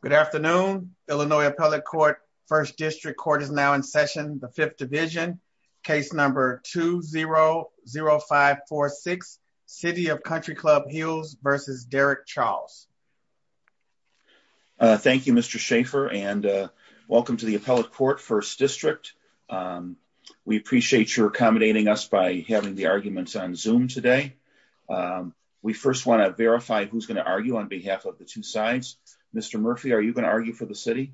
Good afternoon, Illinois Appellate Court, 1st District Court is now in session, the 5th Division, case number 2-0-0-5-4-6, City of Country Club Hills v. Derek Charles. Thank you, Mr. Schaffer, and welcome to the Appellate Court, 1st District. We appreciate your accommodating us by having the arguments on Zoom today. We first want to verify who's going to argue on behalf of the two sides. Mr. Murphy, are you going to argue for the city?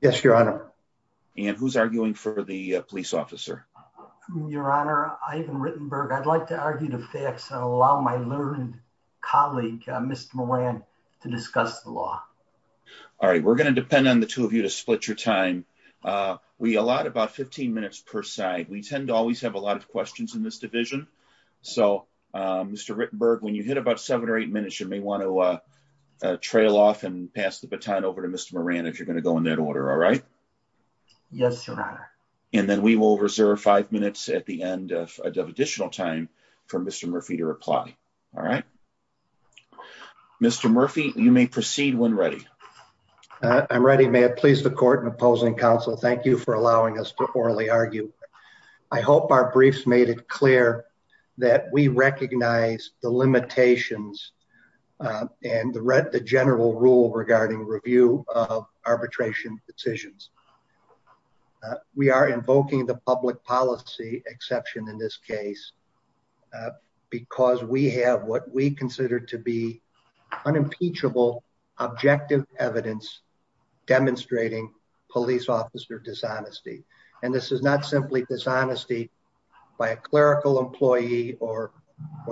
Yes, Your Honor. And who's arguing for the police officer? Your Honor, Ivan Rittenberg, I'd like to argue the facts and allow my learned colleague, Mr. Moran, to discuss the law. All right, we're going to depend on the two of you to split your time. We allot about 15 minutes per side. We tend to always have a lot of questions in this division. So, Mr. Rittenberg, when you hit about 7 or 8 minutes, you may want to trail off and pass the baton over to Mr. Moran if you're going to go in that order, all right? Yes, Your Honor. And then we will reserve 5 minutes at the end of additional time for Mr. Murphy to reply. All right? Mr. Murphy, you may proceed when ready. I'm ready. Mr. Murphy, may it please the court and opposing counsel, thank you for allowing us to orally argue. I hope our briefs made it clear that we recognize the limitations and the general rule regarding review of arbitration decisions. We are invoking the public policy exception in this case because we have what we consider to be unimpeachable objective evidence demonstrating police officer dishonesty. And this is not simply dishonesty by a clerical employee or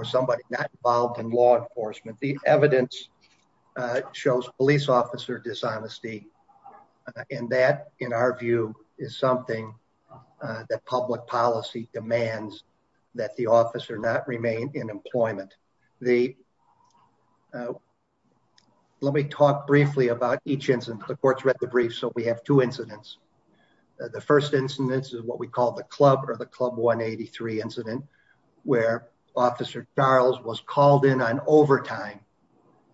somebody not involved in law enforcement. The evidence shows police officer dishonesty. And that, in our view, is something that public policy demands that the officer not remain in employment. Let me talk briefly about each incident. The court's read the brief, so we have two incidents. The first incident is what we call the club or the club 183 incident where Officer Charles was called in on overtime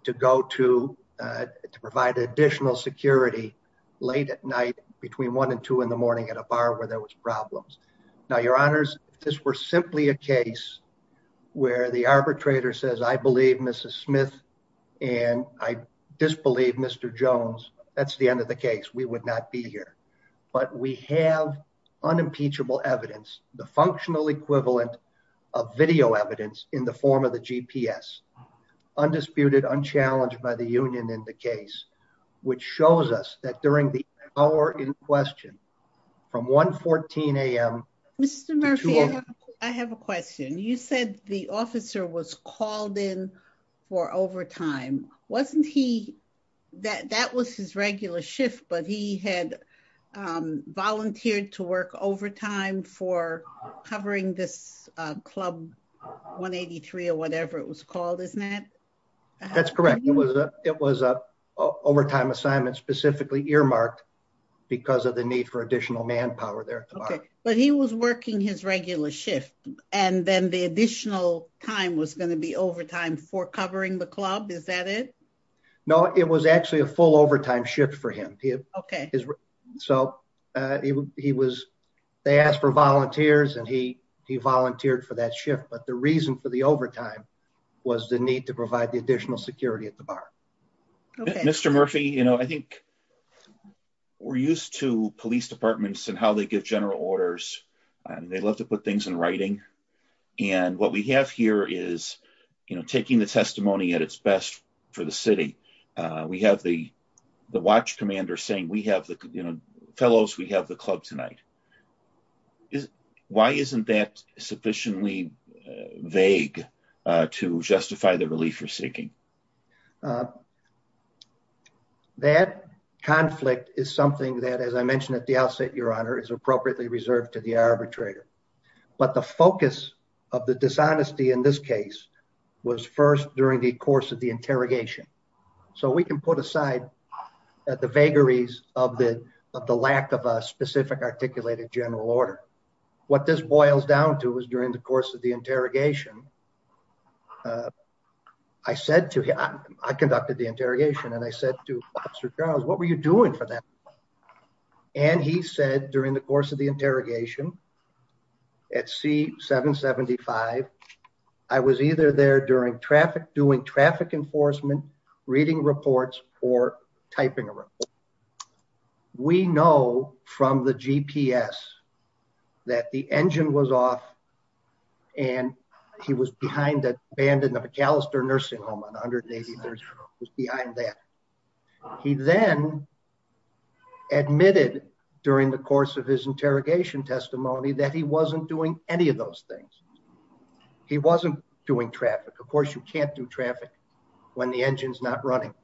to go to provide additional security late at night between 1 and 2 in the morning at a bar where there was problems. Now, your honors, this were simply a case where the arbitrator says, I believe Mrs. Smith and I disbelieve Mr. Jones. That's the end of the case. We would not be here. But we have unimpeachable evidence, the functional equivalent of video evidence in the form of the GPS, undisputed, unchallenged by the union in the case, which shows us that during the hour in question, from 114 a.m. Mr. Murphy, I have a question. You said the officer was called in for overtime. Wasn't he that that was his regular shift, but he had volunteered to work overtime for covering this club 183 or whatever it was called, isn't that? That's correct. It was it was a overtime assignment specifically earmarked because of the need for additional manpower there. But he was working his regular shift and then the additional time was going to be overtime for covering the club. Is that it? No, it was actually a full overtime shift for him. OK, so he was they asked for volunteers and he he volunteered for that shift. But the reason for the overtime was the need to provide the additional security at the bar. Mr. Murphy, you know, I think we're used to police departments and how they give general orders and they love to put things in writing. And what we have here is, you know, taking the testimony at its best for the city. We have the the watch commander saying we have the fellows, we have the club tonight. Why isn't that sufficiently vague to justify the relief you're seeking? That conflict is something that, as I mentioned at the outset, your honor, is appropriately reserved to the arbitrator. But the focus of the dishonesty in this case was first during the course of the interrogation. So we can put aside the vagaries of the of the lack of a specific articulated general order. What this boils down to is during the course of the interrogation. I said to him, I conducted the interrogation and I said to Officer Charles, what were you doing for that? And he said during the course of the interrogation. At C-775, I was either there during traffic, doing traffic enforcement, reading reports or typing a report. We know from the GPS that the engine was off. And he was behind the band in the McAllister Nursing Home on 183rd was behind that. He then admitted during the course of his interrogation testimony that he wasn't doing any of those things. He wasn't doing traffic. Of course, you can't do traffic when the engine's not running.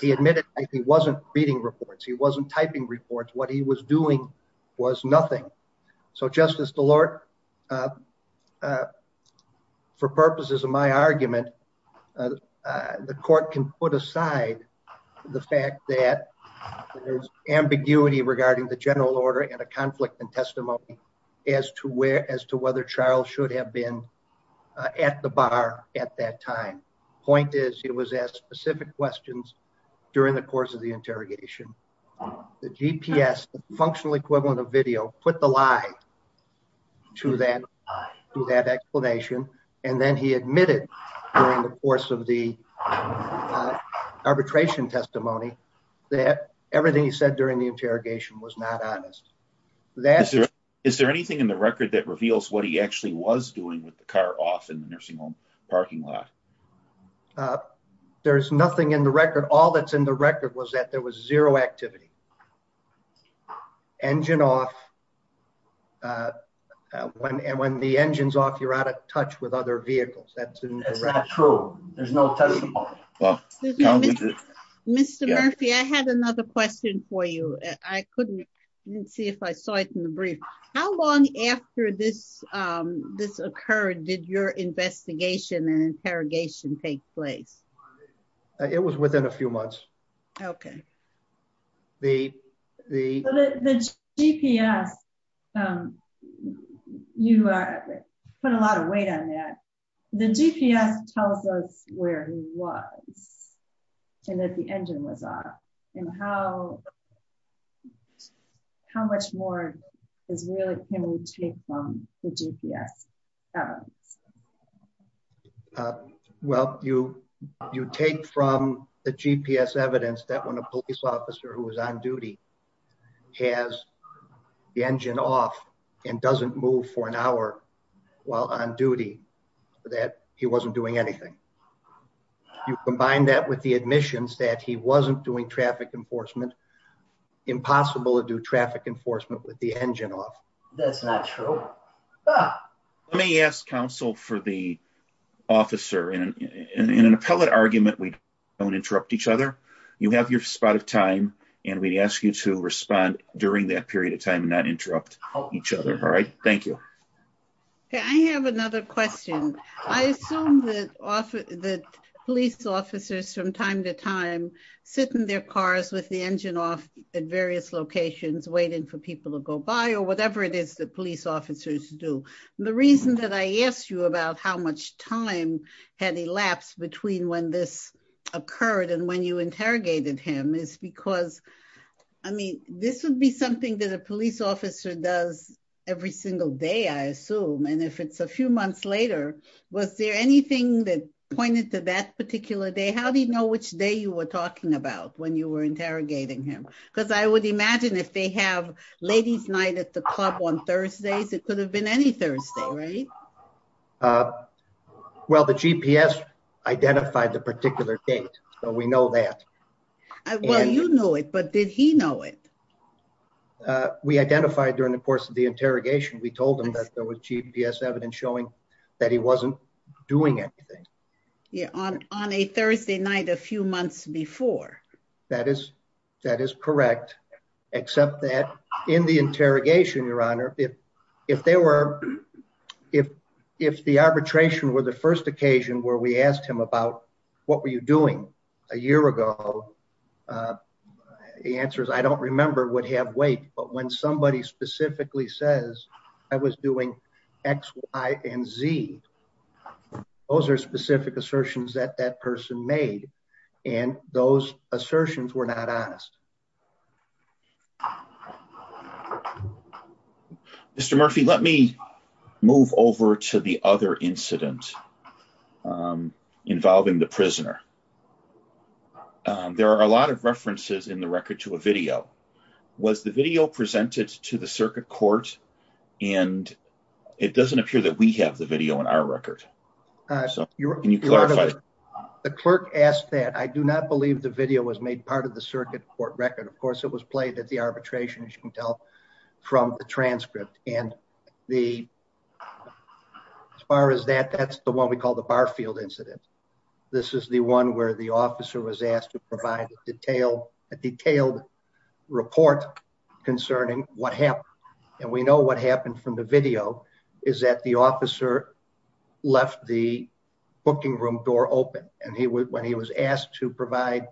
He admitted he wasn't reading reports. He wasn't typing reports. What he was doing was nothing. So, Justice DeLorte, for purposes of my argument, the court can put aside the fact that there's ambiguity regarding the general order and a conflict in testimony as to where as to whether Charles should have been at the bar at that time. Point is, he was asked specific questions during the course of the interrogation. The GPS, the functional equivalent of video, put the lie to that explanation. And then he admitted during the course of the arbitration testimony that everything he said during the interrogation was not honest. Is there anything in the record that reveals what he actually was doing with the car off in the nursing home parking lot? There's nothing in the record. All that's in the record was that there was zero activity. Engine off. When the engine's off, you're out of touch with other vehicles. That's not true. There's no testimony. Mr. Murphy, I had another question for you. I couldn't see if I saw it in the brief. How long after this, this occurred, did your investigation and interrogation take place? It was within a few months. Okay. The GPS, you put a lot of weight on that. The GPS tells us where he was and that the engine was off. And how much more can we take from the GPS evidence? Well, you take from the GPS evidence that when a police officer who was on duty has the engine off and doesn't move for an hour while on duty, that he wasn't doing anything. You combine that with the admissions that he wasn't doing traffic enforcement, impossible to do traffic enforcement with the engine off. That's not true. Let me ask counsel for the officer in an appellate argument, we don't interrupt each other. You have your spot of time and we'd ask you to respond during that period of time and not interrupt each other. All right. Thank you. I have another question. I assume that police officers from time to time sit in their cars with the engine off at various locations, waiting for people to go by or whatever it is that police officers do. The reason that I asked you about how much time had elapsed between when this occurred and when you interrogated him is because, I mean, this would be something that a police officer does every single day, I assume. And if it's a few months later, was there anything that pointed to that particular day? How do you know which day you were talking about when you were interrogating him? Because I would imagine if they have ladies night at the club on Thursdays, it could have been any Thursday, right? Well, the GPS identified the particular date, so we know that. Well, you knew it, but did he know it? We identified during the course of the interrogation. We told him that there was GPS evidence showing that he wasn't doing anything. On a Thursday night a few months before. That is correct, except that in the interrogation, Your Honor, if the arbitration were the first occasion where we asked him about what were you doing a year ago, the answers I don't remember would have weight. But when somebody specifically says I was doing X, Y and Z, those are specific assertions that that person made and those assertions were not honest. Mr. Murphy, let me move over to the other incident involving the prisoner. There are a lot of references in the record to a video. Was the video presented to the circuit court? And it doesn't appear that we have the video in our record. The clerk asked that. I do not believe the video was made part of the circuit court record. Of course, it was played at the arbitration, as you can tell from the transcript. And as far as that, that's the one we call the Barfield incident. This is the one where the officer was asked to provide a detailed report concerning what happened. And we know what happened from the video is that the officer left the booking room door open and when he was asked to provide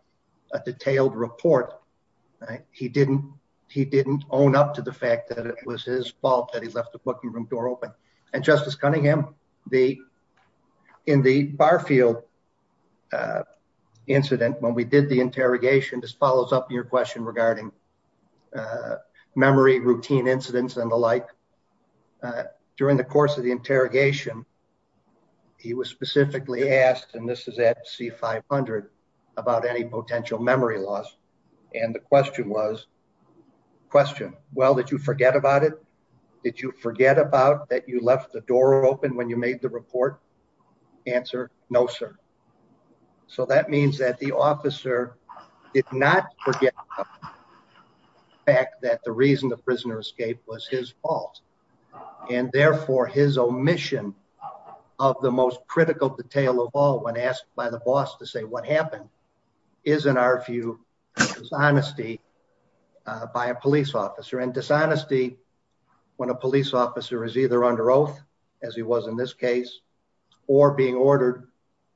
a detailed report, he didn't own up to the fact that it was his fault that he left the booking room door open. And Justice Cunningham, in the Barfield incident, when we did the interrogation, this follows up your question regarding memory, routine incidents and the like. During the course of the interrogation, he was specifically asked, and this is at C-500, about any potential memory loss. And the question was, question, well, did you forget about it? Did you forget about that you left the door open when you made the report? Answer, no, sir. So that means that the officer did not forget the fact that the reason the prisoner escaped was his fault and therefore his omission of the most critical detail of all when asked by the boss to say what happened is, in our view, dishonesty by a police officer. And dishonesty, when a police officer is either under oath, as he was in this case, or being ordered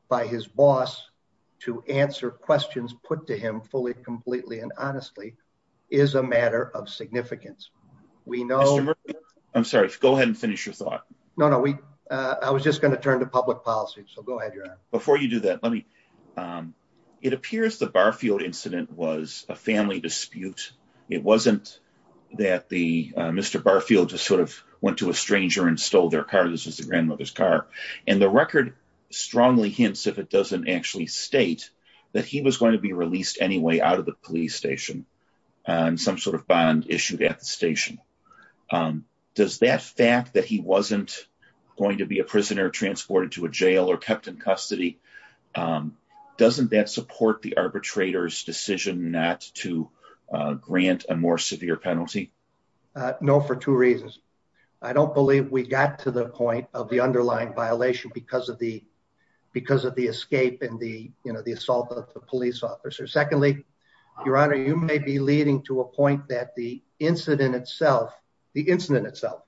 by his boss to answer questions put to him fully, completely, and honestly, is a matter of significance. I'm sorry, go ahead and finish your thought. No, no, I was just going to turn to public policy. So go ahead, Your Honor. Before you do that, let me, it appears the Barfield incident was a family dispute. It wasn't that the Mr. Barfield just sort of went to a stranger and stole their car. This was the grandmother's car. And the record strongly hints, if it doesn't actually state, that he was going to be released anyway out of the police station. Some sort of bond issued at the station. Does that fact that he wasn't going to be a prisoner transported to a jail or kept in custody, doesn't that support the arbitrator's decision not to grant a more severe penalty? No, for two reasons. I don't believe we got to the point of the underlying violation because of the escape and the assault of the police officer. Secondly, Your Honor, you may be leading to a point that the incident itself, the incident itself,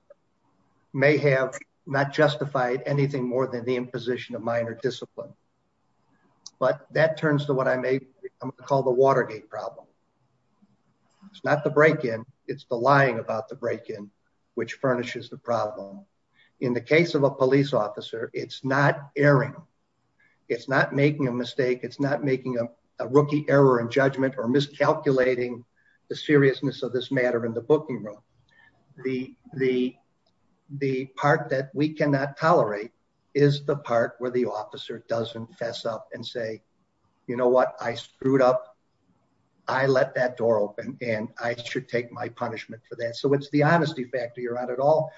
may have not justified anything more than the imposition of minor discipline. But that turns to what I may call the Watergate problem. It's not the break-in, it's the lying about the break-in which furnishes the problem. In the case of a police officer, it's not erring, it's not making a mistake, it's not making a rookie error in judgment or miscalculating the seriousness of this matter in the booking room. The part that we cannot tolerate is the part where the officer doesn't fess up and say, you know what, I screwed up, I let that door open, and I should take my punishment for that. So it's the honesty factor, Your Honor, at all.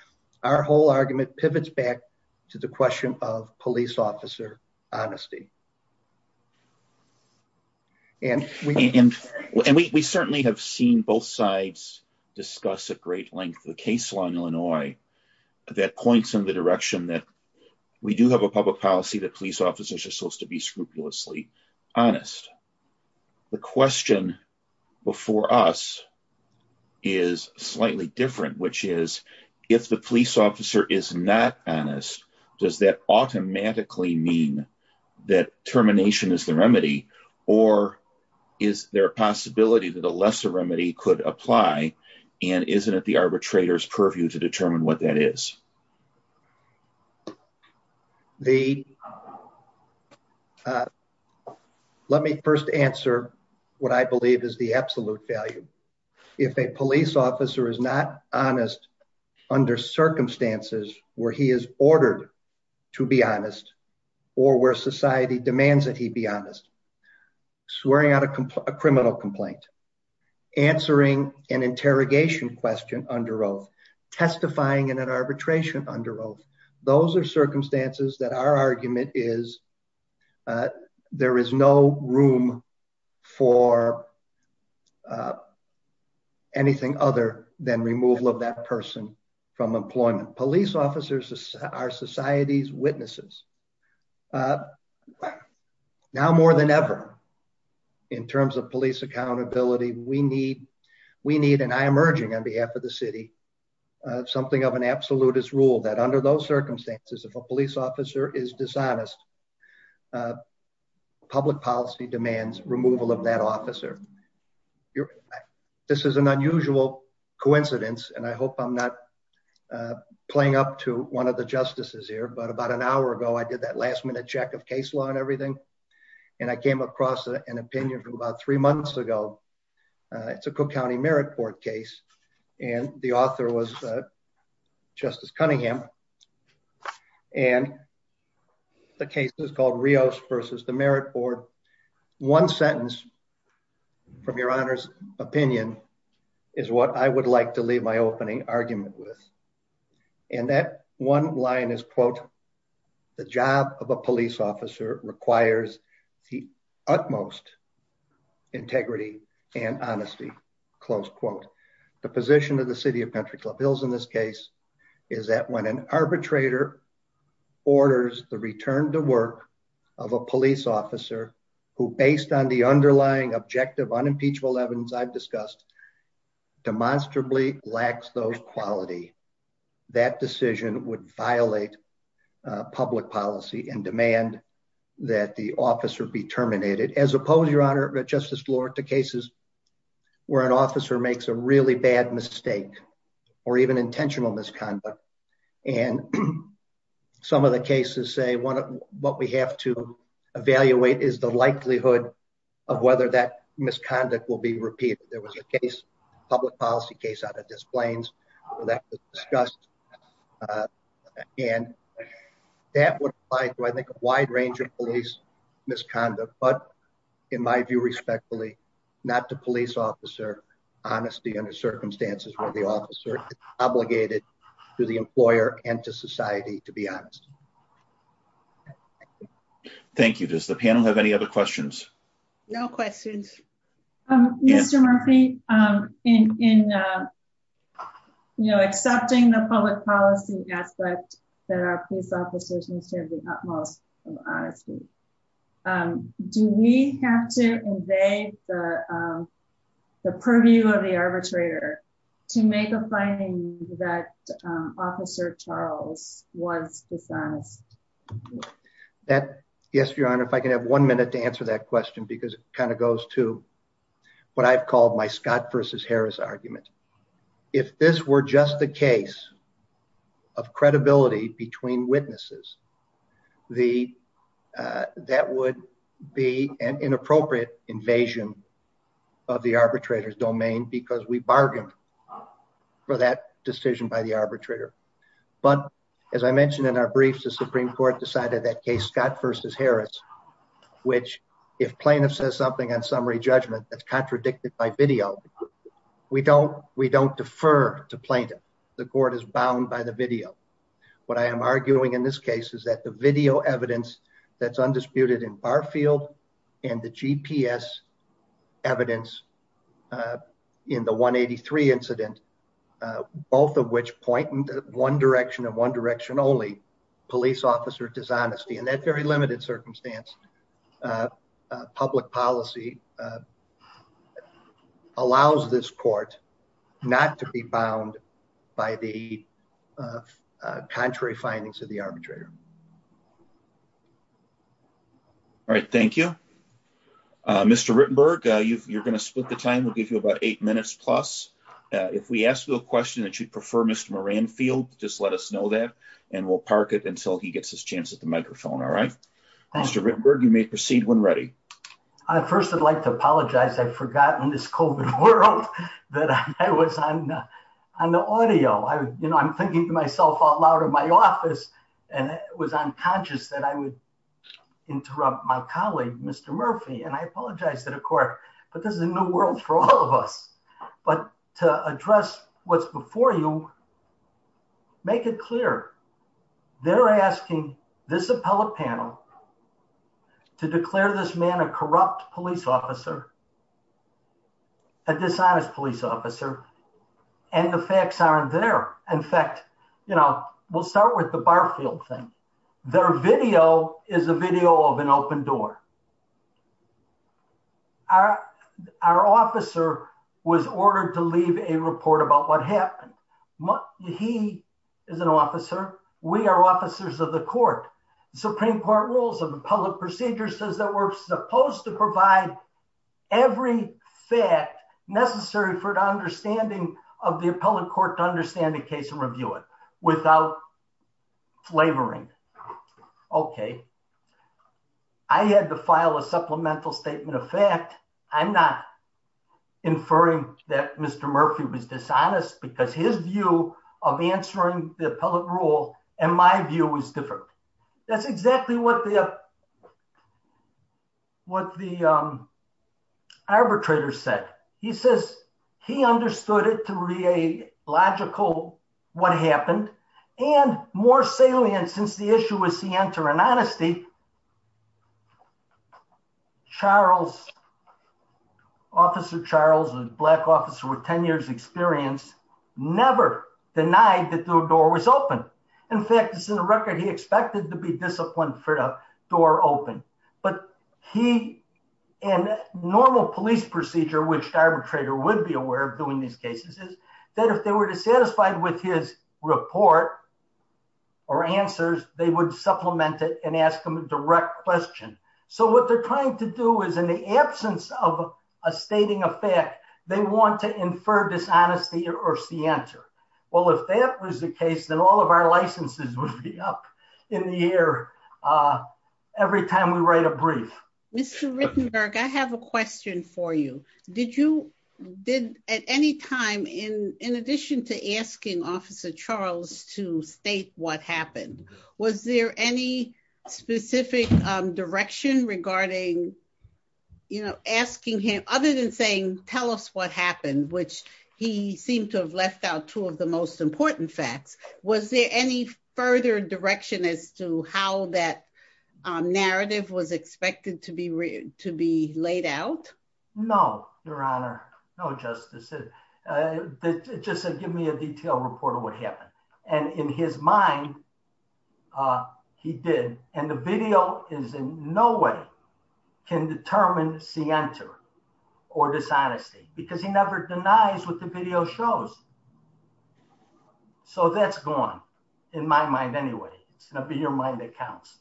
Our whole argument pivots back to the question of police officer honesty. And we certainly have seen both sides discuss at great length the case law in Illinois that points in the direction that we do have a public policy that police officers are supposed to be scrupulously honest. The question before us is slightly different, which is, if the police officer is not honest, does that automatically mean that termination is the remedy, or is there a possibility that a lesser remedy could apply, and isn't it the arbitrator's purview to determine what that is? Let me first answer what I believe is the absolute value. If a police officer is not honest under circumstances where he is ordered to be honest, or where society demands that he be honest, swearing out a criminal complaint, answering an interrogation question under oath, testifying in an arbitration under oath, those are circumstances that our argument is there is no room for anything other than removal of that person from employment. Police officers are society's witnesses. Now more than ever, in terms of police accountability, we need, and I am urging on behalf of the city, something of an absolutist rule that under those circumstances, if a police officer is dishonest, public policy demands removal of that officer. This is an unusual coincidence, and I hope I'm not playing up to one of the justices here, but about an hour ago, I did that last minute check of case law and everything, and I came across an opinion from about three months ago. It's a Cook County Merit Board case, and the author was Justice Cunningham, and the case is called Rios versus the Merit Board. One sentence from your Honor's opinion is what I would like to leave my opening argument with. And that one line is, quote, the job of a police officer requires the utmost integrity and honesty, close quote. The position of the city of Pantry Club Hills in this case is that when an arbitrator orders the return to work of a police officer who, based on the underlying objective unimpeachable evidence I've discussed, demonstrably lacks those quality. That decision would violate public policy and demand that the officer be terminated, as opposed, Your Honor, Justice Lord, to cases where an officer makes a really bad mistake or even intentional misconduct. And some of the cases say what we have to evaluate is the likelihood of whether that misconduct will be repeated. There was a case, a public policy case out of Des Plaines where that was discussed, and that would apply to, I think, a wide range of police misconduct. But in my view, respectfully, not to police officer honesty under circumstances where the officer is obligated to the employer and to society, to be honest. Thank you. Does the panel have any other questions? No questions. Mr. Murphy, in accepting the public policy aspect that our police officers must have the utmost honesty, do we have to invade the purview of the arbitrator to make a finding that Officer Charles was dishonest? Yes, Your Honor, if I can have one minute to answer that question, because it kind of goes to what I've called my Scott versus Harris argument. If this were just the case of credibility between witnesses, that would be an inappropriate invasion of the arbitrator's domain because we bargained for that decision by the arbitrator. But as I mentioned in our briefs, the Supreme Court decided that case Scott versus Harris, which if plaintiff says something on summary judgment that's contradicted by video, we don't defer to plaintiff. The court is bound by the video. What I am arguing in this case is that the video evidence that's undisputed in Barfield and the GPS evidence in the 183 incident, both of which point in one direction and one direction only, police officer dishonesty in that very limited circumstance. Public policy allows this court not to be bound by the contrary findings of the arbitrator. All right. Thank you, Mr. Rittenberg. You're going to split the time. We'll give you about eight minutes plus. If we ask you a question that you'd prefer, Mr. Moranfield, just let us know that and we'll park it until he gets his chance at the microphone. All right. Mr. Rittenberg, you may proceed when ready. I first would like to apologize. I forgot in this COVID world that I was on the audio. You know, I'm thinking to myself out loud in my office and it was unconscious that I would interrupt my colleague, Mr. Murphy, and I apologize to the court, but this is a new world for all of us. But to address what's before you, make it clear. They're asking this appellate panel to declare this man a corrupt police officer, a dishonest police officer, and the facts aren't there. In fact, you know, we'll start with the Barfield thing. Their video is a video of an open door. Our officer was ordered to leave a report about what happened. He is an officer. We are officers of the court. The Supreme Court rules of the public procedure says that we're supposed to provide every fact necessary for the understanding of the appellate court to understand the case and review it without flavoring. Okay. I had to file a supplemental statement of fact. I'm not inferring that Mr. Murphy was dishonest because his view of answering the appellate rule and my view is different. That's exactly what the arbitrator said. He says he understood it to be a logical what happened and more salient since the issue was to enter an honesty, Charles, Officer Charles, a black officer with 10 years experience, never denied that the door was open. In fact, it's in the record he expected to be disciplined for a door open, but he and normal police procedure, which the arbitrator would be aware of doing these cases, is that if they were dissatisfied with his report or answers, they would supplement it and ask him a direct question. So what they're trying to do is in the absence of a stating of fact, they want to infer dishonesty or see enter. Well, if that was the case, then all of our licenses would be up in the air every time we write a brief. Mr. Rittenberg, I have a question for you. Did you did at any time in addition to asking Officer Charles to state what happened, was there any specific direction regarding, you know, asking him other than saying, tell us what happened, which he seemed to have left out two of the most important facts. Was there any further direction as to how that narrative was expected to be read to be laid out? No, Your Honor. No, Justice. Just give me a detailed report of what happened. And in his mind, he did, and the video is in no way can determine see enter or dishonesty, because he never denies what the video shows. So that's gone. In my mind anyway, it's going to be your mind that counts.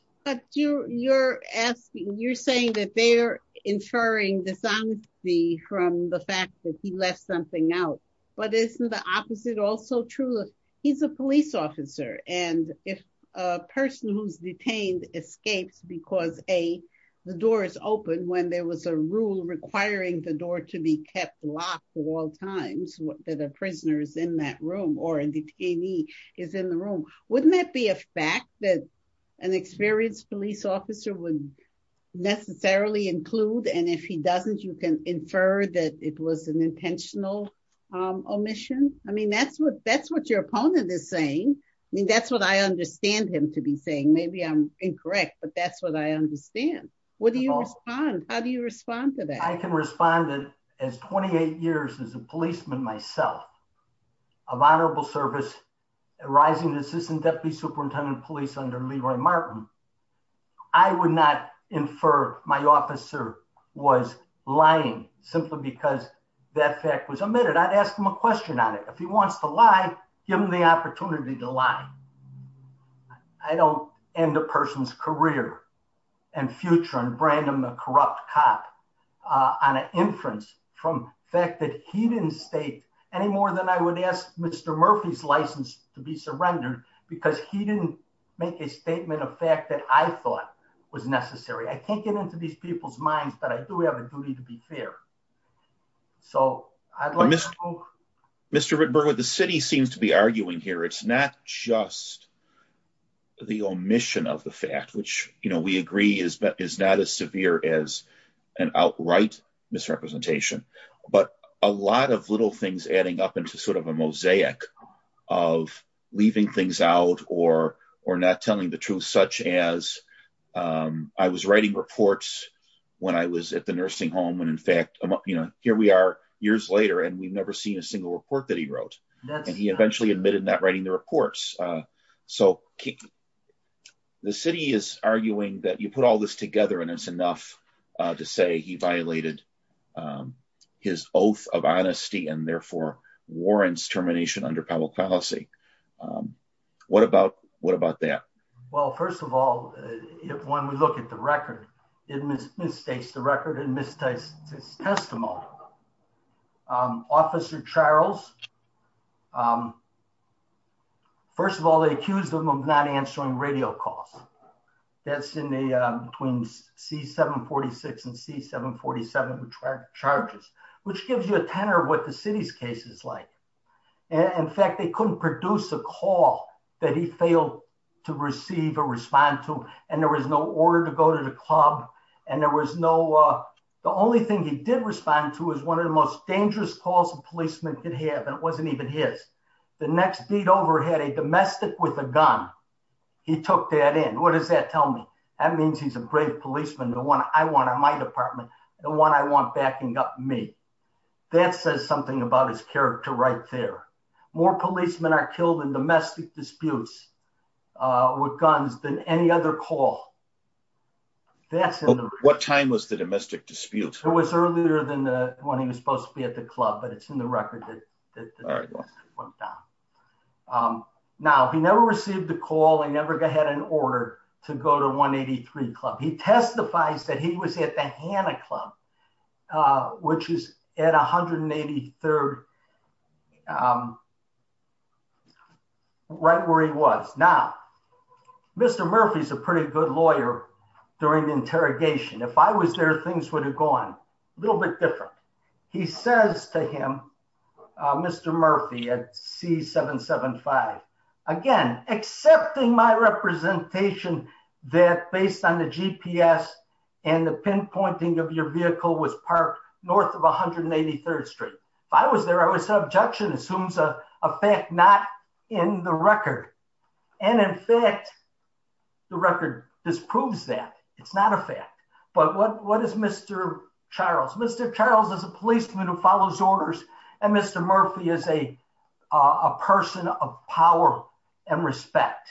You're asking you're saying that they're inferring dishonesty from the fact that he left something out. But isn't the opposite also true. He's a police officer, and if a person who's detained escapes because a, the door is open when there was a rule requiring the door to be kept locked all times that a prisoners in that room or in the TV is in the room, wouldn't that be a fact that an experienced police officer would necessarily include and if he doesn't you can infer that it was an intentional omission. I mean, that's what that's what your opponent is saying. I mean, that's what I understand him to be saying maybe I'm incorrect, but that's what I understand. What do you respond, how do you respond to that? I can respond that as 28 years as a policeman myself of honorable service, rising assistant deputy superintendent of police under Leroy Martin. I would not infer my officer was lying, simply because that fact was admitted I'd asked him a question on it. If he wants to lie, give him the opportunity to lie. I don't end a person's career and future and brand him a corrupt cop on an inference from fact that he didn't state any more than I would ask Mr. Murphy's license to be surrendered, because he didn't make a statement of fact that I thought was necessary I can't get into these people's minds, but I do have a duty to be fair. So, Mr. You know, here we are, years later and we've never seen a single report that he wrote, and he eventually admitted that writing the reports. So, the city is arguing that you put all this together and it's enough to say he violated his oath of honesty and therefore warrants termination under public policy. What about, what about that. Well, first of all, if one would look at the record, it misstates the record and mistakes, testimonial officer Charles. First of all, they accused him of not answering radio calls that's in the twins C 746 and C 747 track charges, which gives you a tenor what the city's cases like. In fact, they couldn't produce a call that he failed to receive or respond to, and there was no order to go to the club, and there was no. The only thing he did respond to is one of the most dangerous calls a policeman could have and it wasn't even his. The next beat over had a domestic with a gun. He took that in what does that tell me. That means he's a great policeman the one I want on my department, the one I want backing up me. That says something about his character right there. More policemen are killed in domestic disputes with guns than any other call. That's what time was the domestic dispute, it was earlier than the one he was supposed to be at the club but it's in the record that went down. Now, he never received a call and never go ahead and order to go to 183 club he testifies that he was at the Hannah club, which is at 183rd right where he was. Now, Mr. Murphy's a pretty good lawyer. During the interrogation if I was there things would have gone a little bit different. He says to him, Mr. Murphy at C 775. Again, accepting my representation that based on the GPS, and the pinpointing of your vehicle was parked north of 183rd Street. If I was there, I would say objection assumes a fact not in the record. And in fact, the record disproves that it's not a fact. But what what is Mr. Charles Mr. Charles as a policeman who follows orders, and Mr. Murphy is a person of power and respect.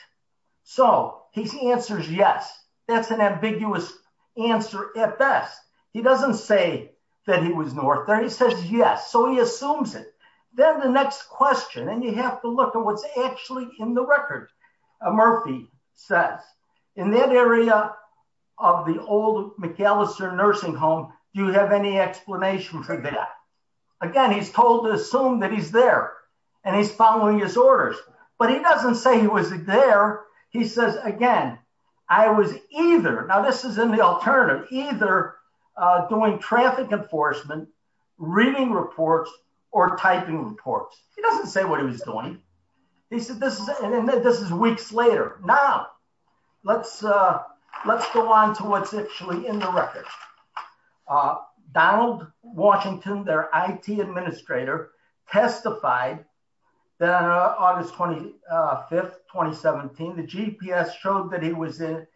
So, he answers yes, that's an ambiguous answer at best. He doesn't say that he was north there he says yes so he assumes it. Then the next question and you have to look at what's actually in the record. Murphy says in that area of the old McAllister nursing home. Do you have any explanation for that. Again, he's told to assume that he's there, and he's following his orders, but he doesn't say he was there. He says, again, I was either now this is an alternative either doing traffic enforcement reading reports or typing reports, he doesn't say what he was doing. He said this is this is weeks later. Now, let's, let's go on to what's actually in the record. Donald Washington their IT administrator testified that on August 25 2017 the GPS showed that he was in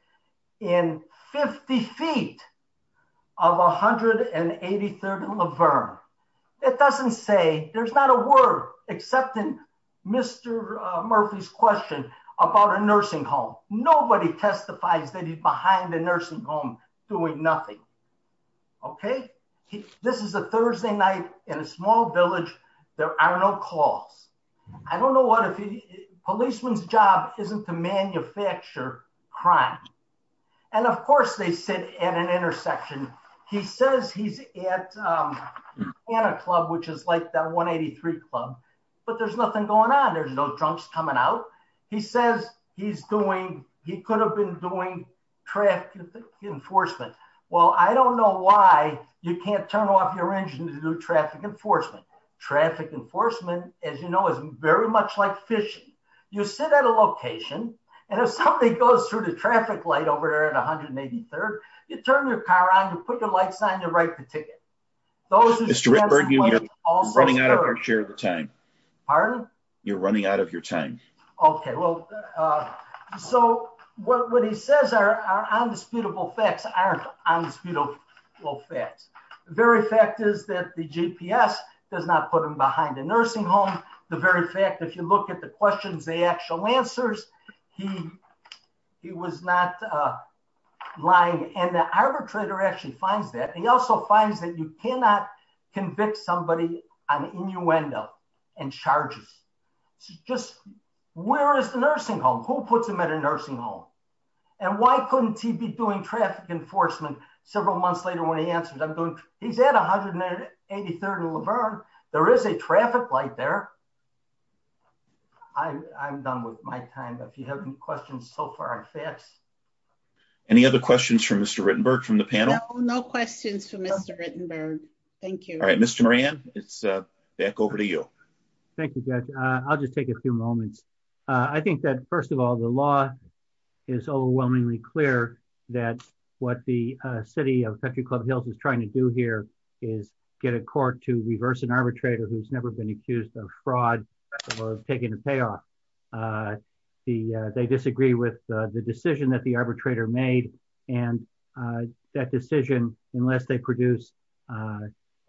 in 50 feet of 183rd Laverne. It doesn't say there's not a word, except in Mr. Murphy's question about a nursing home, nobody testifies that he's behind the nursing home, doing nothing. Okay, this is a Thursday night in a small village. There are no calls. I don't know what a policeman's job isn't to manufacture crime. And of course they sit at an intersection. He says he's at a club which is like that 183 club, but there's nothing going on there's no drunks coming out. He says he's doing, he could have been doing traffic enforcement. Well, I don't know why you can't turn off your engine to do traffic enforcement traffic enforcement, as you know, is very much like fishing. You sit at a location. And if somebody goes through the traffic light over there at 183rd, you turn your car on to put your light sign to write the ticket. Those are all running out of our share of the time. You're running out of your time. Okay, well, so what he says are undisputable facts aren't undisputable facts. The very fact is that the GPS does not put them behind the nursing home, the very fact if you look at the questions they actual answers. He was not lying and the arbitrator actually finds that he also finds that you cannot convict somebody on innuendo and charges. Just where is the nursing home who puts them at a nursing home. And why couldn't he be doing traffic enforcement, several months later when he answers I'm doing, he's at 183rd and Laverne, there is a traffic light there. I'm done with my time if you have any questions so far. Any other questions for Mr Rittenberg from the panel. No questions for Mr Rittenberg. Thank you. All right, Mr. Moran, it's back over to you. Thank you guys. I'll just take a few moments. I think that first of all the law is overwhelmingly clear that what the city of country club hills is trying to do here is get a court to reverse an arbitrator who's never been accused of fraud, taking a payoff. The, they disagree with the decision that the arbitrator made, and that decision, unless they produce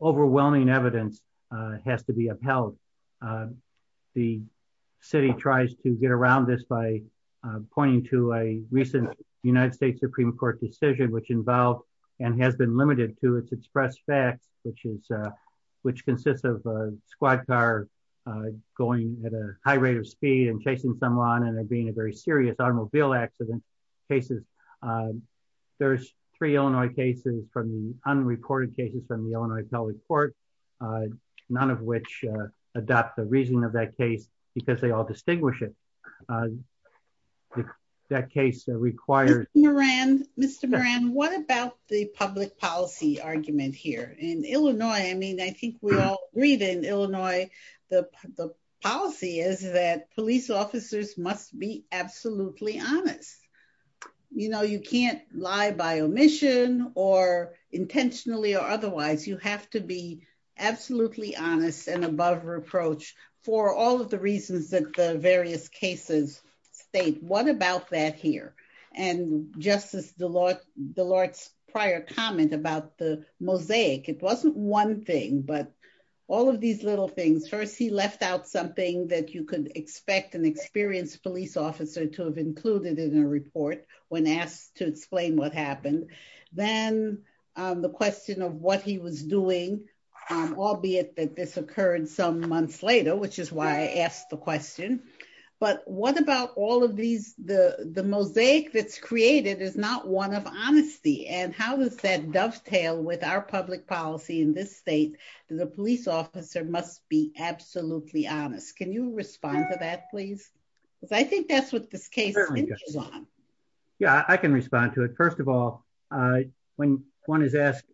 overwhelming evidence has to be upheld. The city tries to get around this by pointing to a recent United States Supreme Court decision which involved, and has been limited to its express facts, which is, which consists of squad car, going at a high rate of speed and chasing someone and being a very serious automobile accident cases. There's three Illinois cases from the unreported cases from the Illinois Teleport. None of which adopt the reason of that case, because they all distinguish it. That case that requires Moran, Mr Moran, what about the public policy argument here in Illinois, I mean I think we all read in Illinois, the policy is that police officers must be absolutely honest. You know you can't lie by omission or intentionally or otherwise you have to be absolutely honest and above reproach for all of the reasons that the various cases state what about that here, and justice the Lord, the Lord's prior comment about the mosaic it wasn't one thing but all of these little things first he left out something that you can expect an experienced police officer to have included in a report, when asked to explain what happened, then the question of what he was doing. Albeit that this occurred some months later, which is why I asked the question. But what about all of these, the, the mosaic that's created is not one of honesty and how does that dovetail with our public policy in this state, the police officer must be absolutely honest. Can you respond to that please, because I think that's what this case. Yeah, I can respond to it. First of all, when one is asked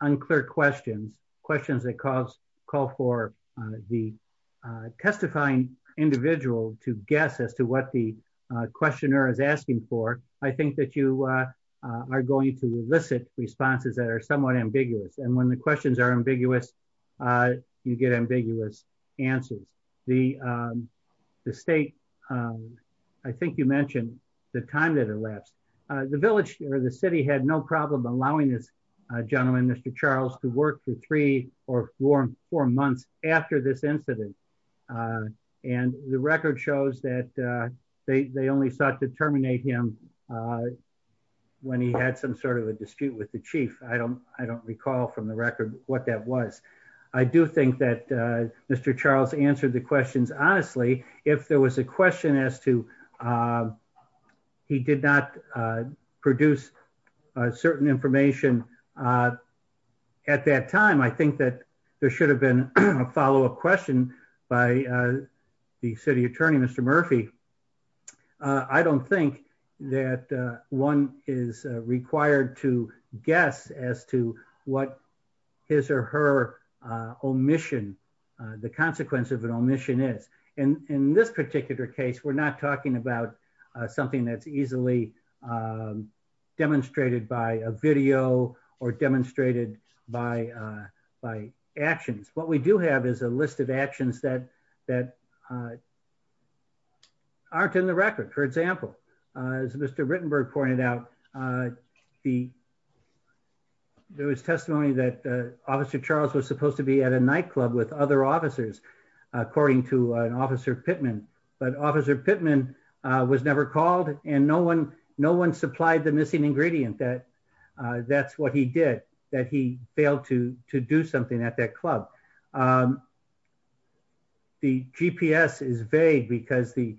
unclear questions, questions that cause call for the testifying individual to guess as to what the questioner is asking for. I think that you are going to elicit responses that are somewhat ambiguous and when the questions are ambiguous. You get ambiguous answers, the state. I think you mentioned the time that elapsed the village or the city had no problem allowing this gentleman Mr Charles to work for three or four months after this incident. And the record shows that they only start to terminate him. When he had some sort of a dispute with the chief. I don't, I don't recall from the record what that was. I do think that Mr Charles answered the questions. Honestly, if there was a question as to He did not produce certain information. At that time, I think that there should have been a follow up question by the city attorney, Mr. Murphy. I don't think that one is required to guess as to what his or her omission, the consequence of an omission is. And in this particular case, we're not talking about something that's easily Demonstrated by a video or demonstrated by by actions. What we do have is a list of actions that that Aren't in the record. For example, as Mr Rittenberg pointed out, the There was testimony that officer Charles was supposed to be at a nightclub with other officers, according to an officer Pittman but officer Pittman was never called and no one no one supplied the missing ingredient that that's what he did that he failed to to do something at that club. The GPS is vague because the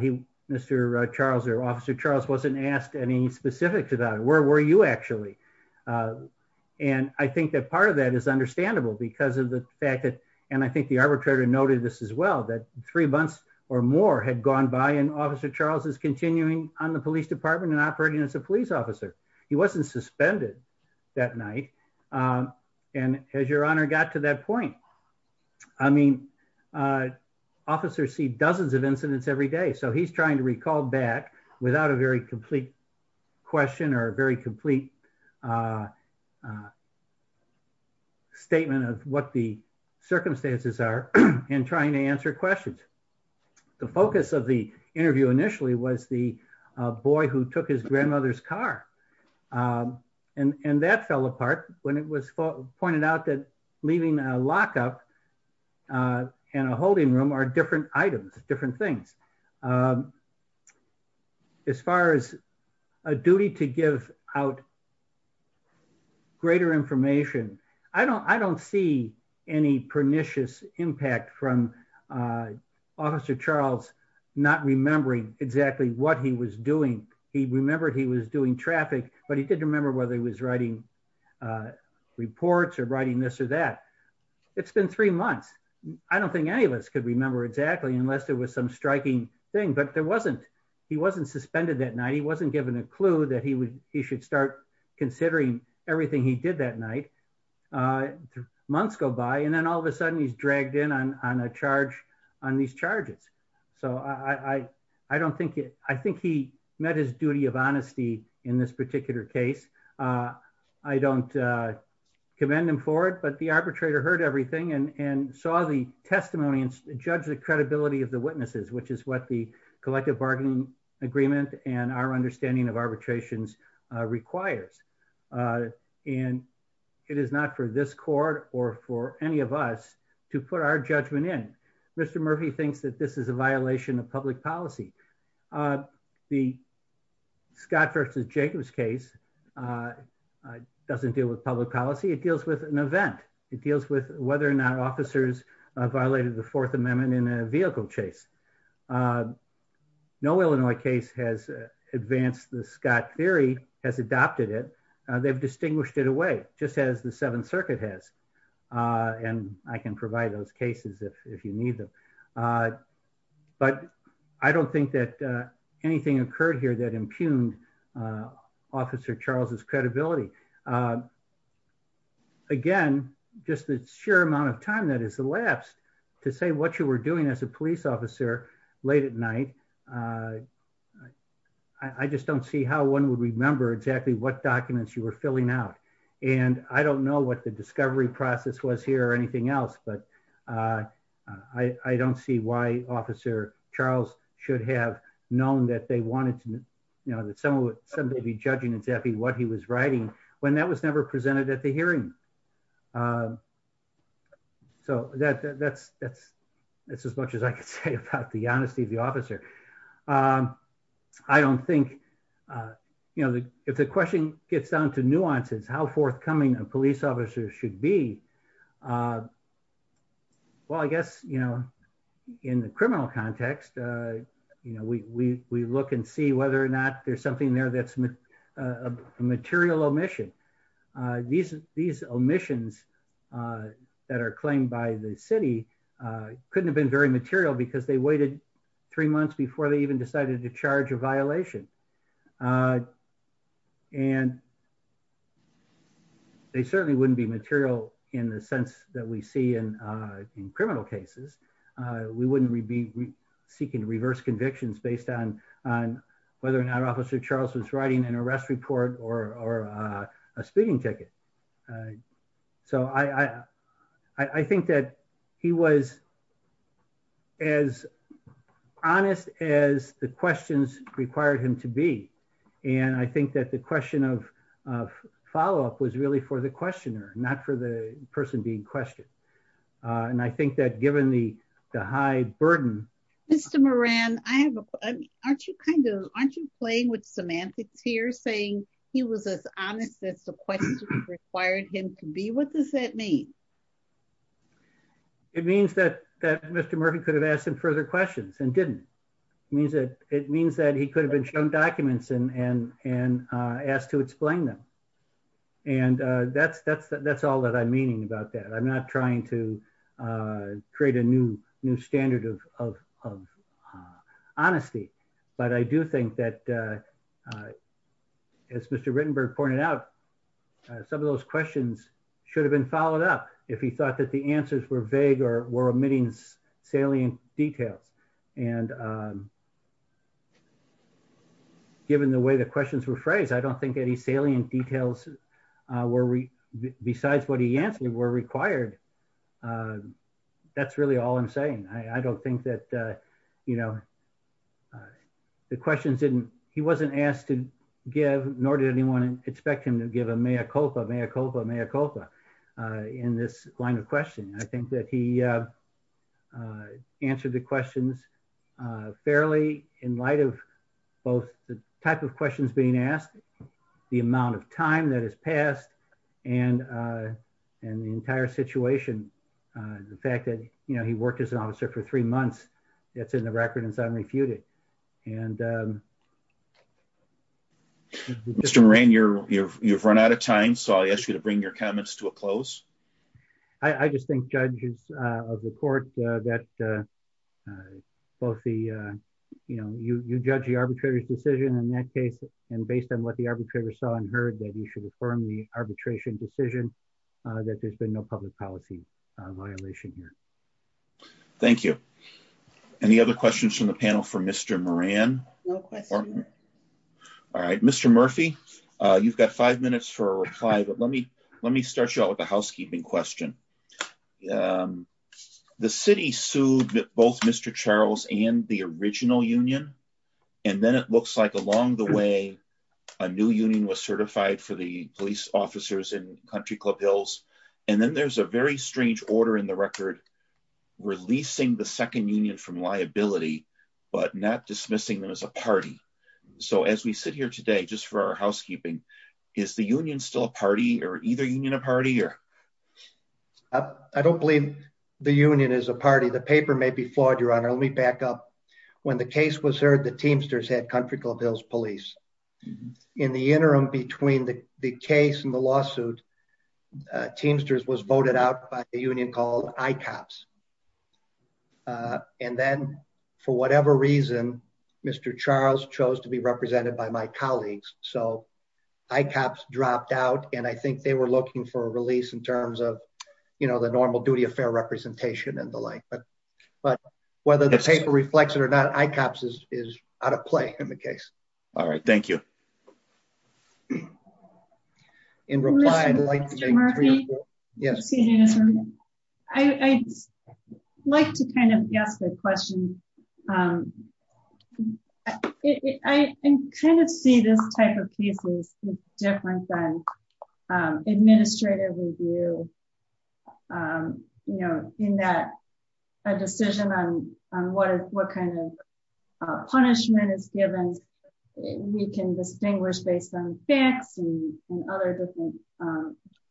he Mr. Charles or officer Charles wasn't asked any specific to that. Where were you actually And I think that part of that is understandable because of the fact that, and I think the arbitrator noted this as well that three months or more had gone by and officer Charles is continuing on the police department and operating as a police officer. He wasn't suspended that night. And as your honor got to that point, I mean, Officers see dozens of incidents every day. So he's trying to recall back without a very complete question or a very complete Statement of what the circumstances are and trying to answer questions. The focus of the interview initially was the boy who took his grandmother's car. And and that fell apart when it was pointed out that leaving a lock up In a holding room are different items, different things. As far as a duty to give out Greater information. I don't, I don't see any pernicious impact from Officer Charles not remembering exactly what he was doing. He remembered he was doing traffic, but he didn't remember whether he was writing Reports or writing this or that. It's been three months. I don't think any of us could remember exactly unless there was some striking thing, but there wasn't. He wasn't suspended that night. He wasn't given a clue that he would he should start considering everything he did that night. Months go by and then all of a sudden he's dragged in on on a charge on these charges. So I, I don't think it. I think he met his duty of honesty in this particular case. I don't commend him for it, but the arbitrator heard everything and and saw the testimony and judge the credibility of the witnesses, which is what the collective bargaining agreement and our understanding of arbitrations requires And it is not for this court or for any of us to put our judgment in Mr. Murphy thinks that this is a violation of public policy. The Scott versus Jacobs case. Doesn't deal with public policy. It deals with an event. It deals with whether or not officers violated the Fourth Amendment in a vehicle chase No Illinois case has advanced the Scott theory has adopted it. They've distinguished it away just as the Seventh Circuit has and I can provide those cases if if you need them. But I don't think that anything occurred here that impugned Officer Charles's credibility. Again, just the sheer amount of time that is elapsed to say what you were doing as a police officer late at night. I just don't see how one would remember exactly what documents, you were filling out and I don't know what the discovery process was here or anything else but I don't see why Officer Charles should have known that they wanted to know that someone would be judging exactly what he was writing when that was never presented at the hearing. So that's, that's, that's, that's as much as I can say about the honesty of the officer. I don't think You know, if the question gets down to nuances how forthcoming a police officer should be Well, I guess, you know, in the criminal context, you know, we, we, we look and see whether or not there's something there that's a material omission. These, these omissions. That are claimed by the city couldn't have been very material because they waited three months before they even decided to charge a violation. And They certainly wouldn't be material in the sense that we see in in criminal cases, we wouldn't be seeking to reverse convictions, based on on whether or not Officer Charles was writing an arrest report or a speeding ticket. So I, I think that he was As honest as the questions required him to be. And I think that the question of follow up was really for the questioner, not for the person being questioned. And I think that given the high burden. Mr Moran, I have a question. Aren't you kind of aren't you playing with semantics here saying he was as honest as the question required him to be. What does that mean It means that that Mr. Murphy could have asked him further questions and didn't means that it means that he could have been shown documents and and and asked to explain them. And that's, that's, that's all that I'm meaning about that. I'm not trying to Create a new new standard of Honesty, but I do think that As Mr. Rittenberg pointed out, some of those questions should have been followed up if he thought that the answers were vague or were omitting salient details and Given the way the questions were phrased. I don't think any salient details were besides what he answered were required. That's really all I'm saying. I don't think that, you know, The questions didn't, he wasn't asked to give, nor did anyone expect him to give a mea culpa, mea culpa, mea culpa in this line of question. I think that he And Mr. Moran, you're, you're, you've run out of time. So I asked you to bring your comments to a close. I just think judges of the court that Both the, you know, you judge the arbitrator's decision in that case. And based on what the arbitrator saw and heard that you should affirm the arbitration decision that there's been no public policy violation here. Thank you. Any other questions from the panel for Mr. Moran? All right, Mr. Murphy, you've got five minutes for a reply, but let me, let me start you out with a housekeeping question. The city sued both Mr. Charles and the original union and then it looks like along the way. A new union was certified for the police officers in Country Club Hills. And then there's a very strange order in the record. Releasing the second union from liability, but not dismissing them as a party. So as we sit here today, just for our housekeeping. Is the union still a party or either union a party or I don't believe the union is a party. The paper may be flawed. Your Honor, let me back up when the case was heard the Teamsters had Country Club Hills police. In the interim between the case and the lawsuit Teamsters was voted out by the union called ICOPS. And then for whatever reason, Mr. Charles chose to be represented by my colleagues. So ICOPS dropped out and I think they were looking for a release in terms of, you know, the normal duty of fair representation and the like. But whether the paper reflects it or not, ICOPS is out of play in the case. All right. Thank you. In reply, I'd like to make three or four- Excuse me, Mr. Murphy. I'd like to kind of guess the question. I kind of see this type of case as different than administrative review. You know, in that a decision on what kind of punishment is given, we can distinguish based on facts and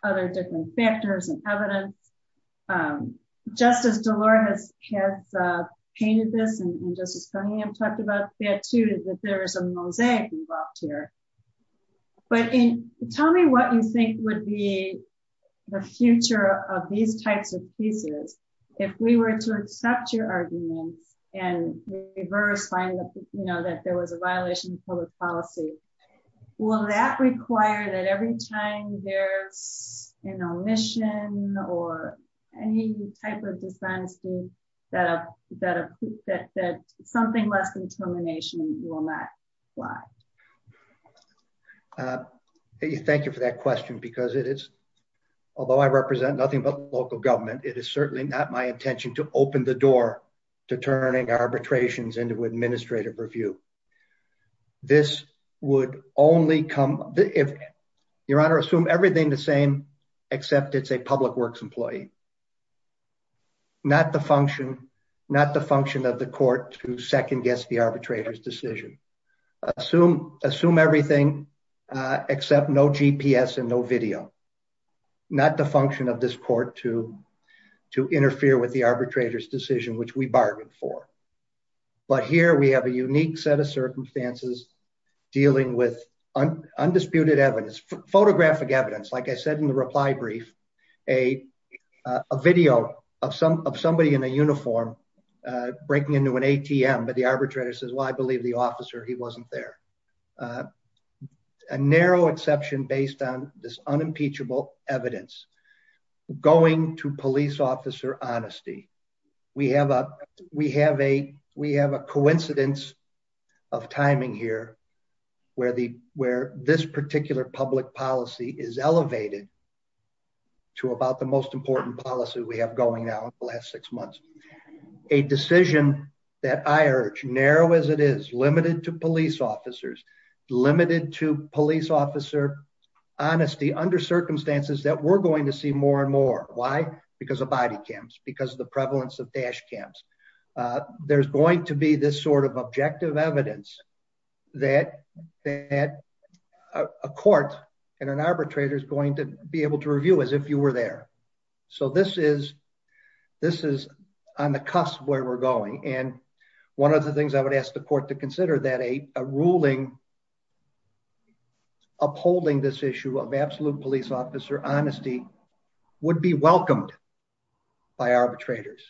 other different factors and evidence. Justice Delora has painted this and Justice Coneyham talked about that too, that there is a mosaic involved here. But tell me what you think would be the future of these types of cases if we were to accept your arguments and reverse finding that there was a violation of public policy. Will that require that every time there's an omission or any type of defense that something less than termination will not apply? Thank you for that question because it is, although I represent nothing but local government, it is certainly not my intention to open the door to turning arbitrations into administrative review. This would only come if, Your Honor, assume everything the same, except it's a public works employee. Not the function, not the function of the court to second guess the arbitrator's decision. Assume everything except no GPS and no video. Not the function of this court to interfere with the arbitrator's decision, which we bargained for. But here we have a unique set of circumstances dealing with undisputed evidence, photographic evidence. Like I said in the reply brief, a video of somebody in a uniform breaking into an ATM, but the arbitrator says, well, I believe the officer, he wasn't there. A narrow exception based on this unimpeachable evidence going to police officer honesty. We have a coincidence of timing here where this particular public policy is elevated to about the most important policy we have going now in the last six months. A decision that I urge, narrow as it is, limited to police officers, limited to police officer honesty under circumstances that we're going to see more and more. Why? Because of body cams, because of the prevalence of dash cams. There's going to be this sort of objective evidence that a court and an arbitrator is going to be able to review as if you were there. So this is on the cusp of where we're going. And one of the things I would ask the court to consider that a ruling upholding this issue of absolute police officer honesty would be welcomed by arbitrators.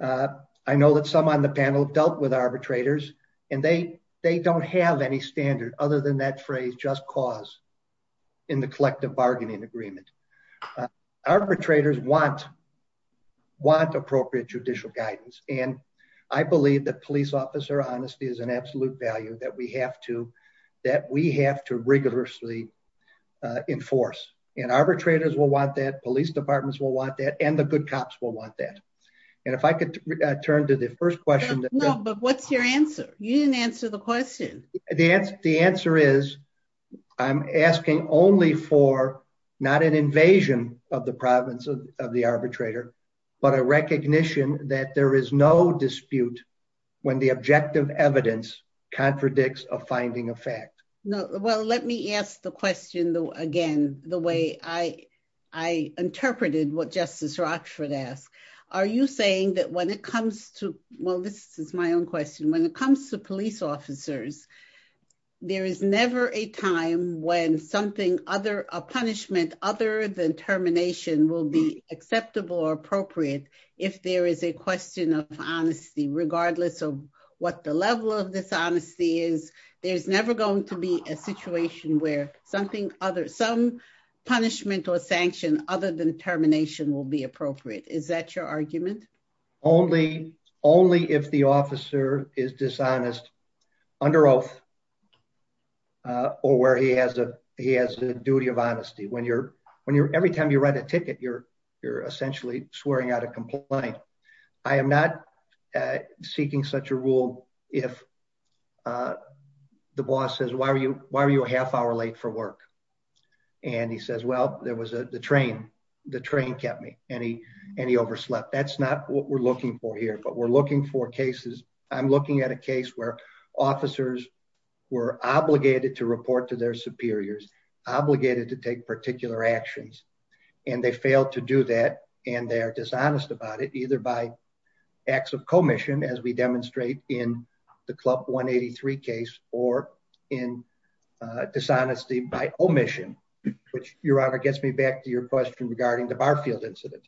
I know that some on the panel dealt with arbitrators and they don't have any standard other than that phrase just cause in the collective bargaining agreement. Arbitrators want appropriate judicial guidance. And I believe that police officer honesty is an absolute value that we have to rigorously enforce. And arbitrators will want that, police departments will want that, and the good cops will want that. And if I could turn to the first question. No, but what's your answer? You didn't answer the question. The answer is I'm asking only for not an invasion of the province of the arbitrator, but a recognition that there is no dispute when the objective evidence contradicts a finding of fact. Well, let me ask the question again, the way I interpreted what Justice Rochford asked. Are you saying that when it comes to, well, this is my own question, when it comes to police officers, there is never a time when something other, a punishment other than termination will be acceptable or appropriate. If there is a question of honesty, regardless of what the level of dishonesty is, there's never going to be a situation where something other, some punishment or sanction other than termination will be appropriate. Is that your argument? Only, only if the officer is dishonest under oath or where he has a, he has a duty of honesty. When you're, when you're, every time you write a ticket, you're, you're essentially swearing out a complaint. I am not seeking such a rule if the boss says, why are you, why are you a half hour late for work? And he says, well, there was a, the train, the train kept me any, any overslept. That's not what we're looking for here, but we're looking for cases. I'm looking at a case where officers were obligated to report to their superiors, obligated to take particular actions. And they failed to do that. And they're dishonest about it, either by acts of commission, as we demonstrate in the club 183 case or in a dishonesty by omission, which your honor gets me back to your question regarding the Barfield incident.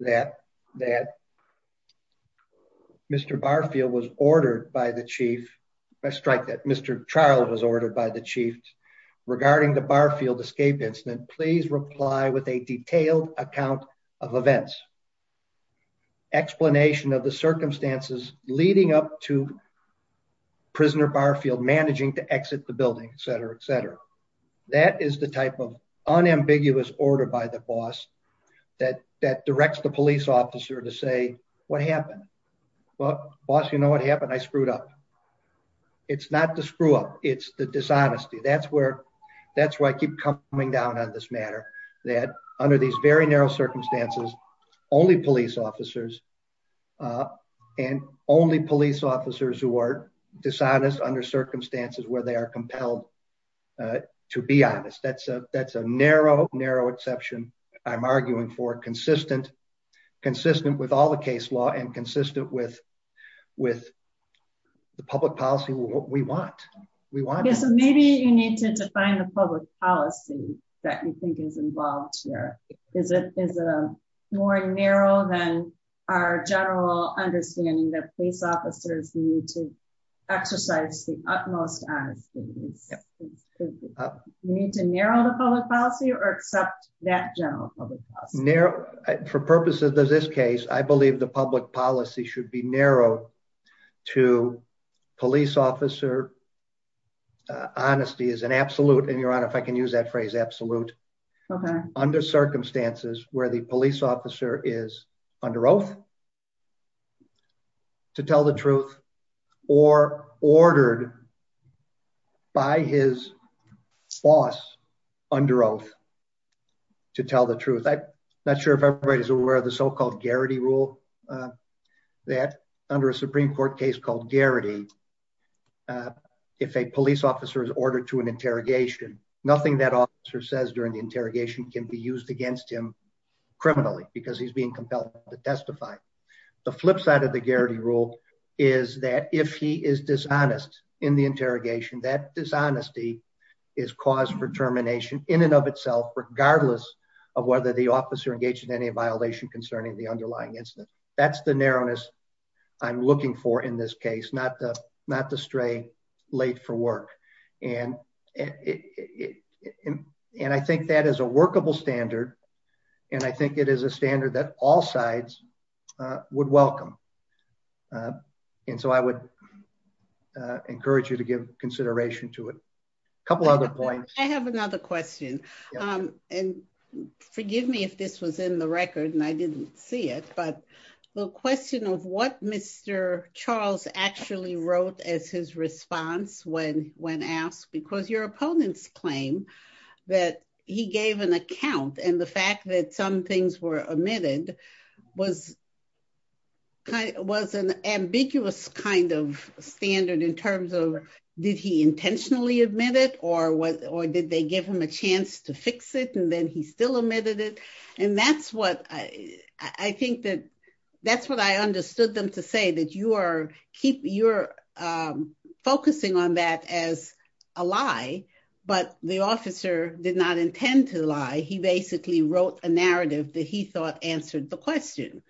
That Mr. Barfield was ordered by the chief. I strike that Mr. Charles was ordered by the chief regarding the Barfield escape incident. Please reply with a detailed account of events. Explanation of the circumstances leading up to prisoner Barfield managing to exit the building, et cetera, et cetera. That is the type of unambiguous order by the boss that, that directs the police officer to say what happened? Well, boss, you know what happened? I screwed up. It's not the screw up. It's the dishonesty. That's where, that's why I keep coming down on this matter that under these very narrow circumstances, only police officers and only police officers who are dishonest under circumstances where they are compelled to be honest. That's a, that's a narrow, narrow exception. I'm arguing for consistent, consistent with all the case law and consistent with, with the public policy. That's what we want. We want. Maybe you need to define the public policy that you think is involved here. Is it, is it a more narrow than our general understanding that police officers need to exercise the utmost. You need to narrow the public policy or accept that general narrow for purposes of this case, I believe the public policy should be narrow to police officer. Honesty is an absolute. And your honor, if I can use that phrase, absolute. Okay. Under circumstances where the police officer is under oath to tell the truth or ordered by his boss under oath to tell the truth. I'm not sure if everybody's aware of the so-called Garrity rule that under a Supreme court case called Garrity. If a police officer is ordered to an interrogation, nothing that officer says during the interrogation can be used against him criminally because he's being compelled to testify. The flip side of the Garrity rule is that if he is dishonest in the interrogation, that dishonesty is cause for termination in and of itself, regardless of whether the officer engaged in any violation concerning the underlying incident. That's the narrowness I'm looking for in this case, not the, not the stray late for work. And, and I think that is a workable standard. And I think it is a standard that all sides would welcome. And so I would encourage you to give consideration to it. I have another question. And forgive me if this was in the record and I didn't see it, but the question of what Mr. Charles actually wrote as his response when, when asked because your opponents claim that he gave an account and the fact that some things were admitted was. It was an ambiguous kind of standard in terms of, did he intentionally admit it or what, or did they give him a chance to fix it and then he still admitted it. And that's what I, I think that that's what I understood them to say that you are keep your focusing on that as a lie, but the officer did not intend to lie he basically wrote a narrative that he thought answered the question.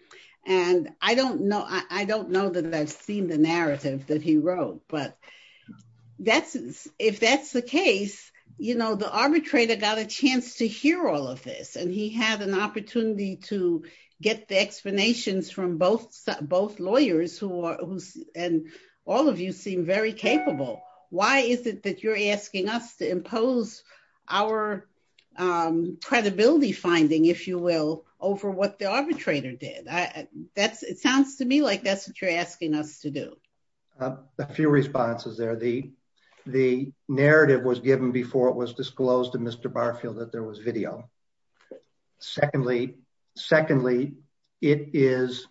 And I don't know, I don't know that I've seen the narrative that he wrote, but that's, if that's the case, you know, the arbitrator got a chance to hear all of this and he had an opportunity to get the explanations from both, both lawyers who, and all of you seem very capable. Why is it that you're asking us to impose our credibility finding, if you will, over what the arbitrator did. I, that's, it sounds to me like that's what you're asking us to do a few responses there the, the narrative was given before it was disclosed to Mr. Barfield that there was video. Secondly, secondly, it is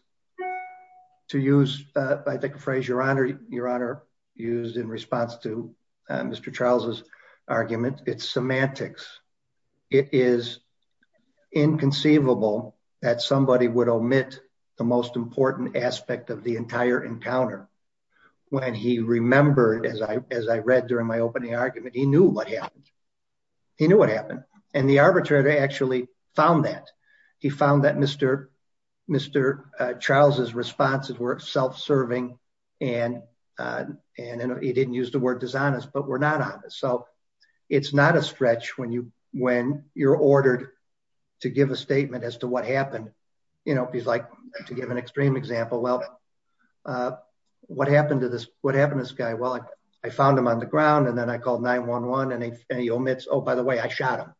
to use, I think a phrase your honor, your honor used in response to Mr. Charles's argument, it's semantics. It is inconceivable that somebody would omit the most important aspect of the entire encounter. When he remembered as I, as I read during my opening argument, he knew what happened. He knew what happened. And the arbitrator actually found that he found that Mr. Mr. Charles's responses were self-serving and, and he didn't use the word dishonest, but we're not honest. So it's not a stretch when you, when you're ordered to give a statement as to what happened, you know, if he's like to give an extreme example, well, what happened to this, what happened to this guy? Well, I found him on the ground and then I called 9-1-1 and he, and he omits, oh, by the way, I shot him.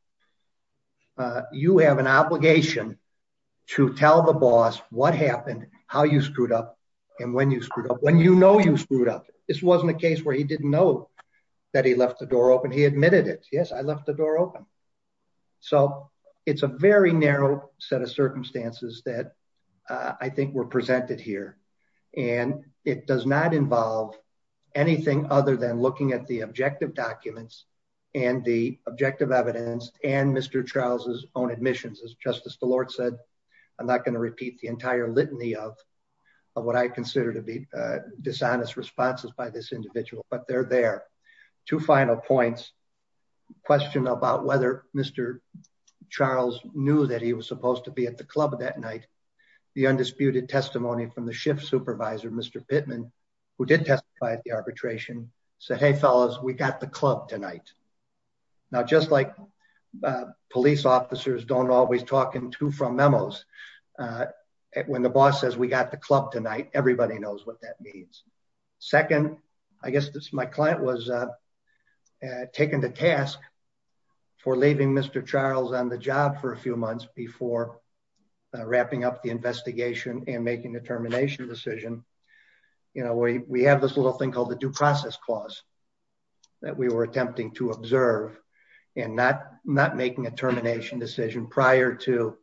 You have an obligation to tell the boss what happened, how you screwed up and when you screwed up, when you know, you screwed up. This wasn't a case where he didn't know that he left the door open. He admitted it. Yes. I left the door open. So it's a very narrow set of circumstances that I think were presented here and it does not involve anything other than looking at the objective documents and the objective evidence and Mr. Charles's own admissions as justice, the Lord said, I'm not going to repeat the entire litany of, of what I consider to be a dishonest responses by this individual, but they're there. Two final points question about whether Mr. Charles knew that he was supposed to be at the club that night. The undisputed testimony from the shift supervisor, Mr. Pittman, who did testify at the arbitration said, Hey fellas, we got the club tonight. Now, just like, uh, police officers don't always talk into from memos, uh, when the boss says we got the club tonight, everybody knows what that means. Second, I guess this, my client was, uh, uh, taken to task for leaving Mr. Charles on the job for a few months before wrapping up the investigation and making the termination decision. You know, we, we have this little thing called the due process clause that we were attempting to observe and not, not making a termination decision prior to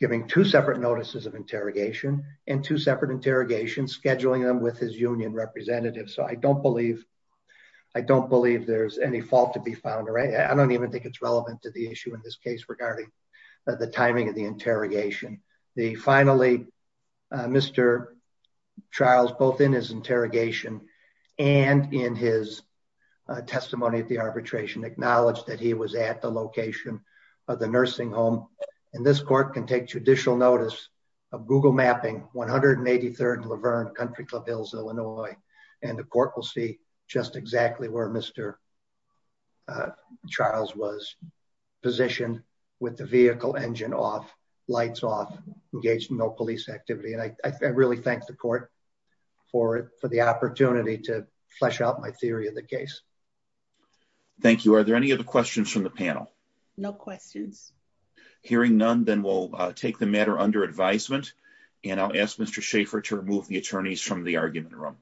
giving two separate notices of interrogation and two separate interrogation scheduling them with his union representatives. So I don't believe, I don't believe there's any fault to be found. I don't even think it's relevant to the issue in this case regarding the timing of the interrogation. The finally, uh, Mr. Charles, both in his interrogation and in his testimony at the arbitration acknowledged that he was at the location of the nursing home. And this court can take judicial notice of Google mapping 183rd Laverne country club Hills, Illinois, and the court will see just exactly where Mr. Uh, Charles was positioned with the vehicle engine off lights off engaged in no police activity. And I really thank the court for, for the opportunity to flesh out my theory of the case. Thank you. Are there any other questions from the panel? No questions. Hearing none, then we'll take the matter under advisement and I'll ask Mr. Schaefer to remove the attorneys from the argument room.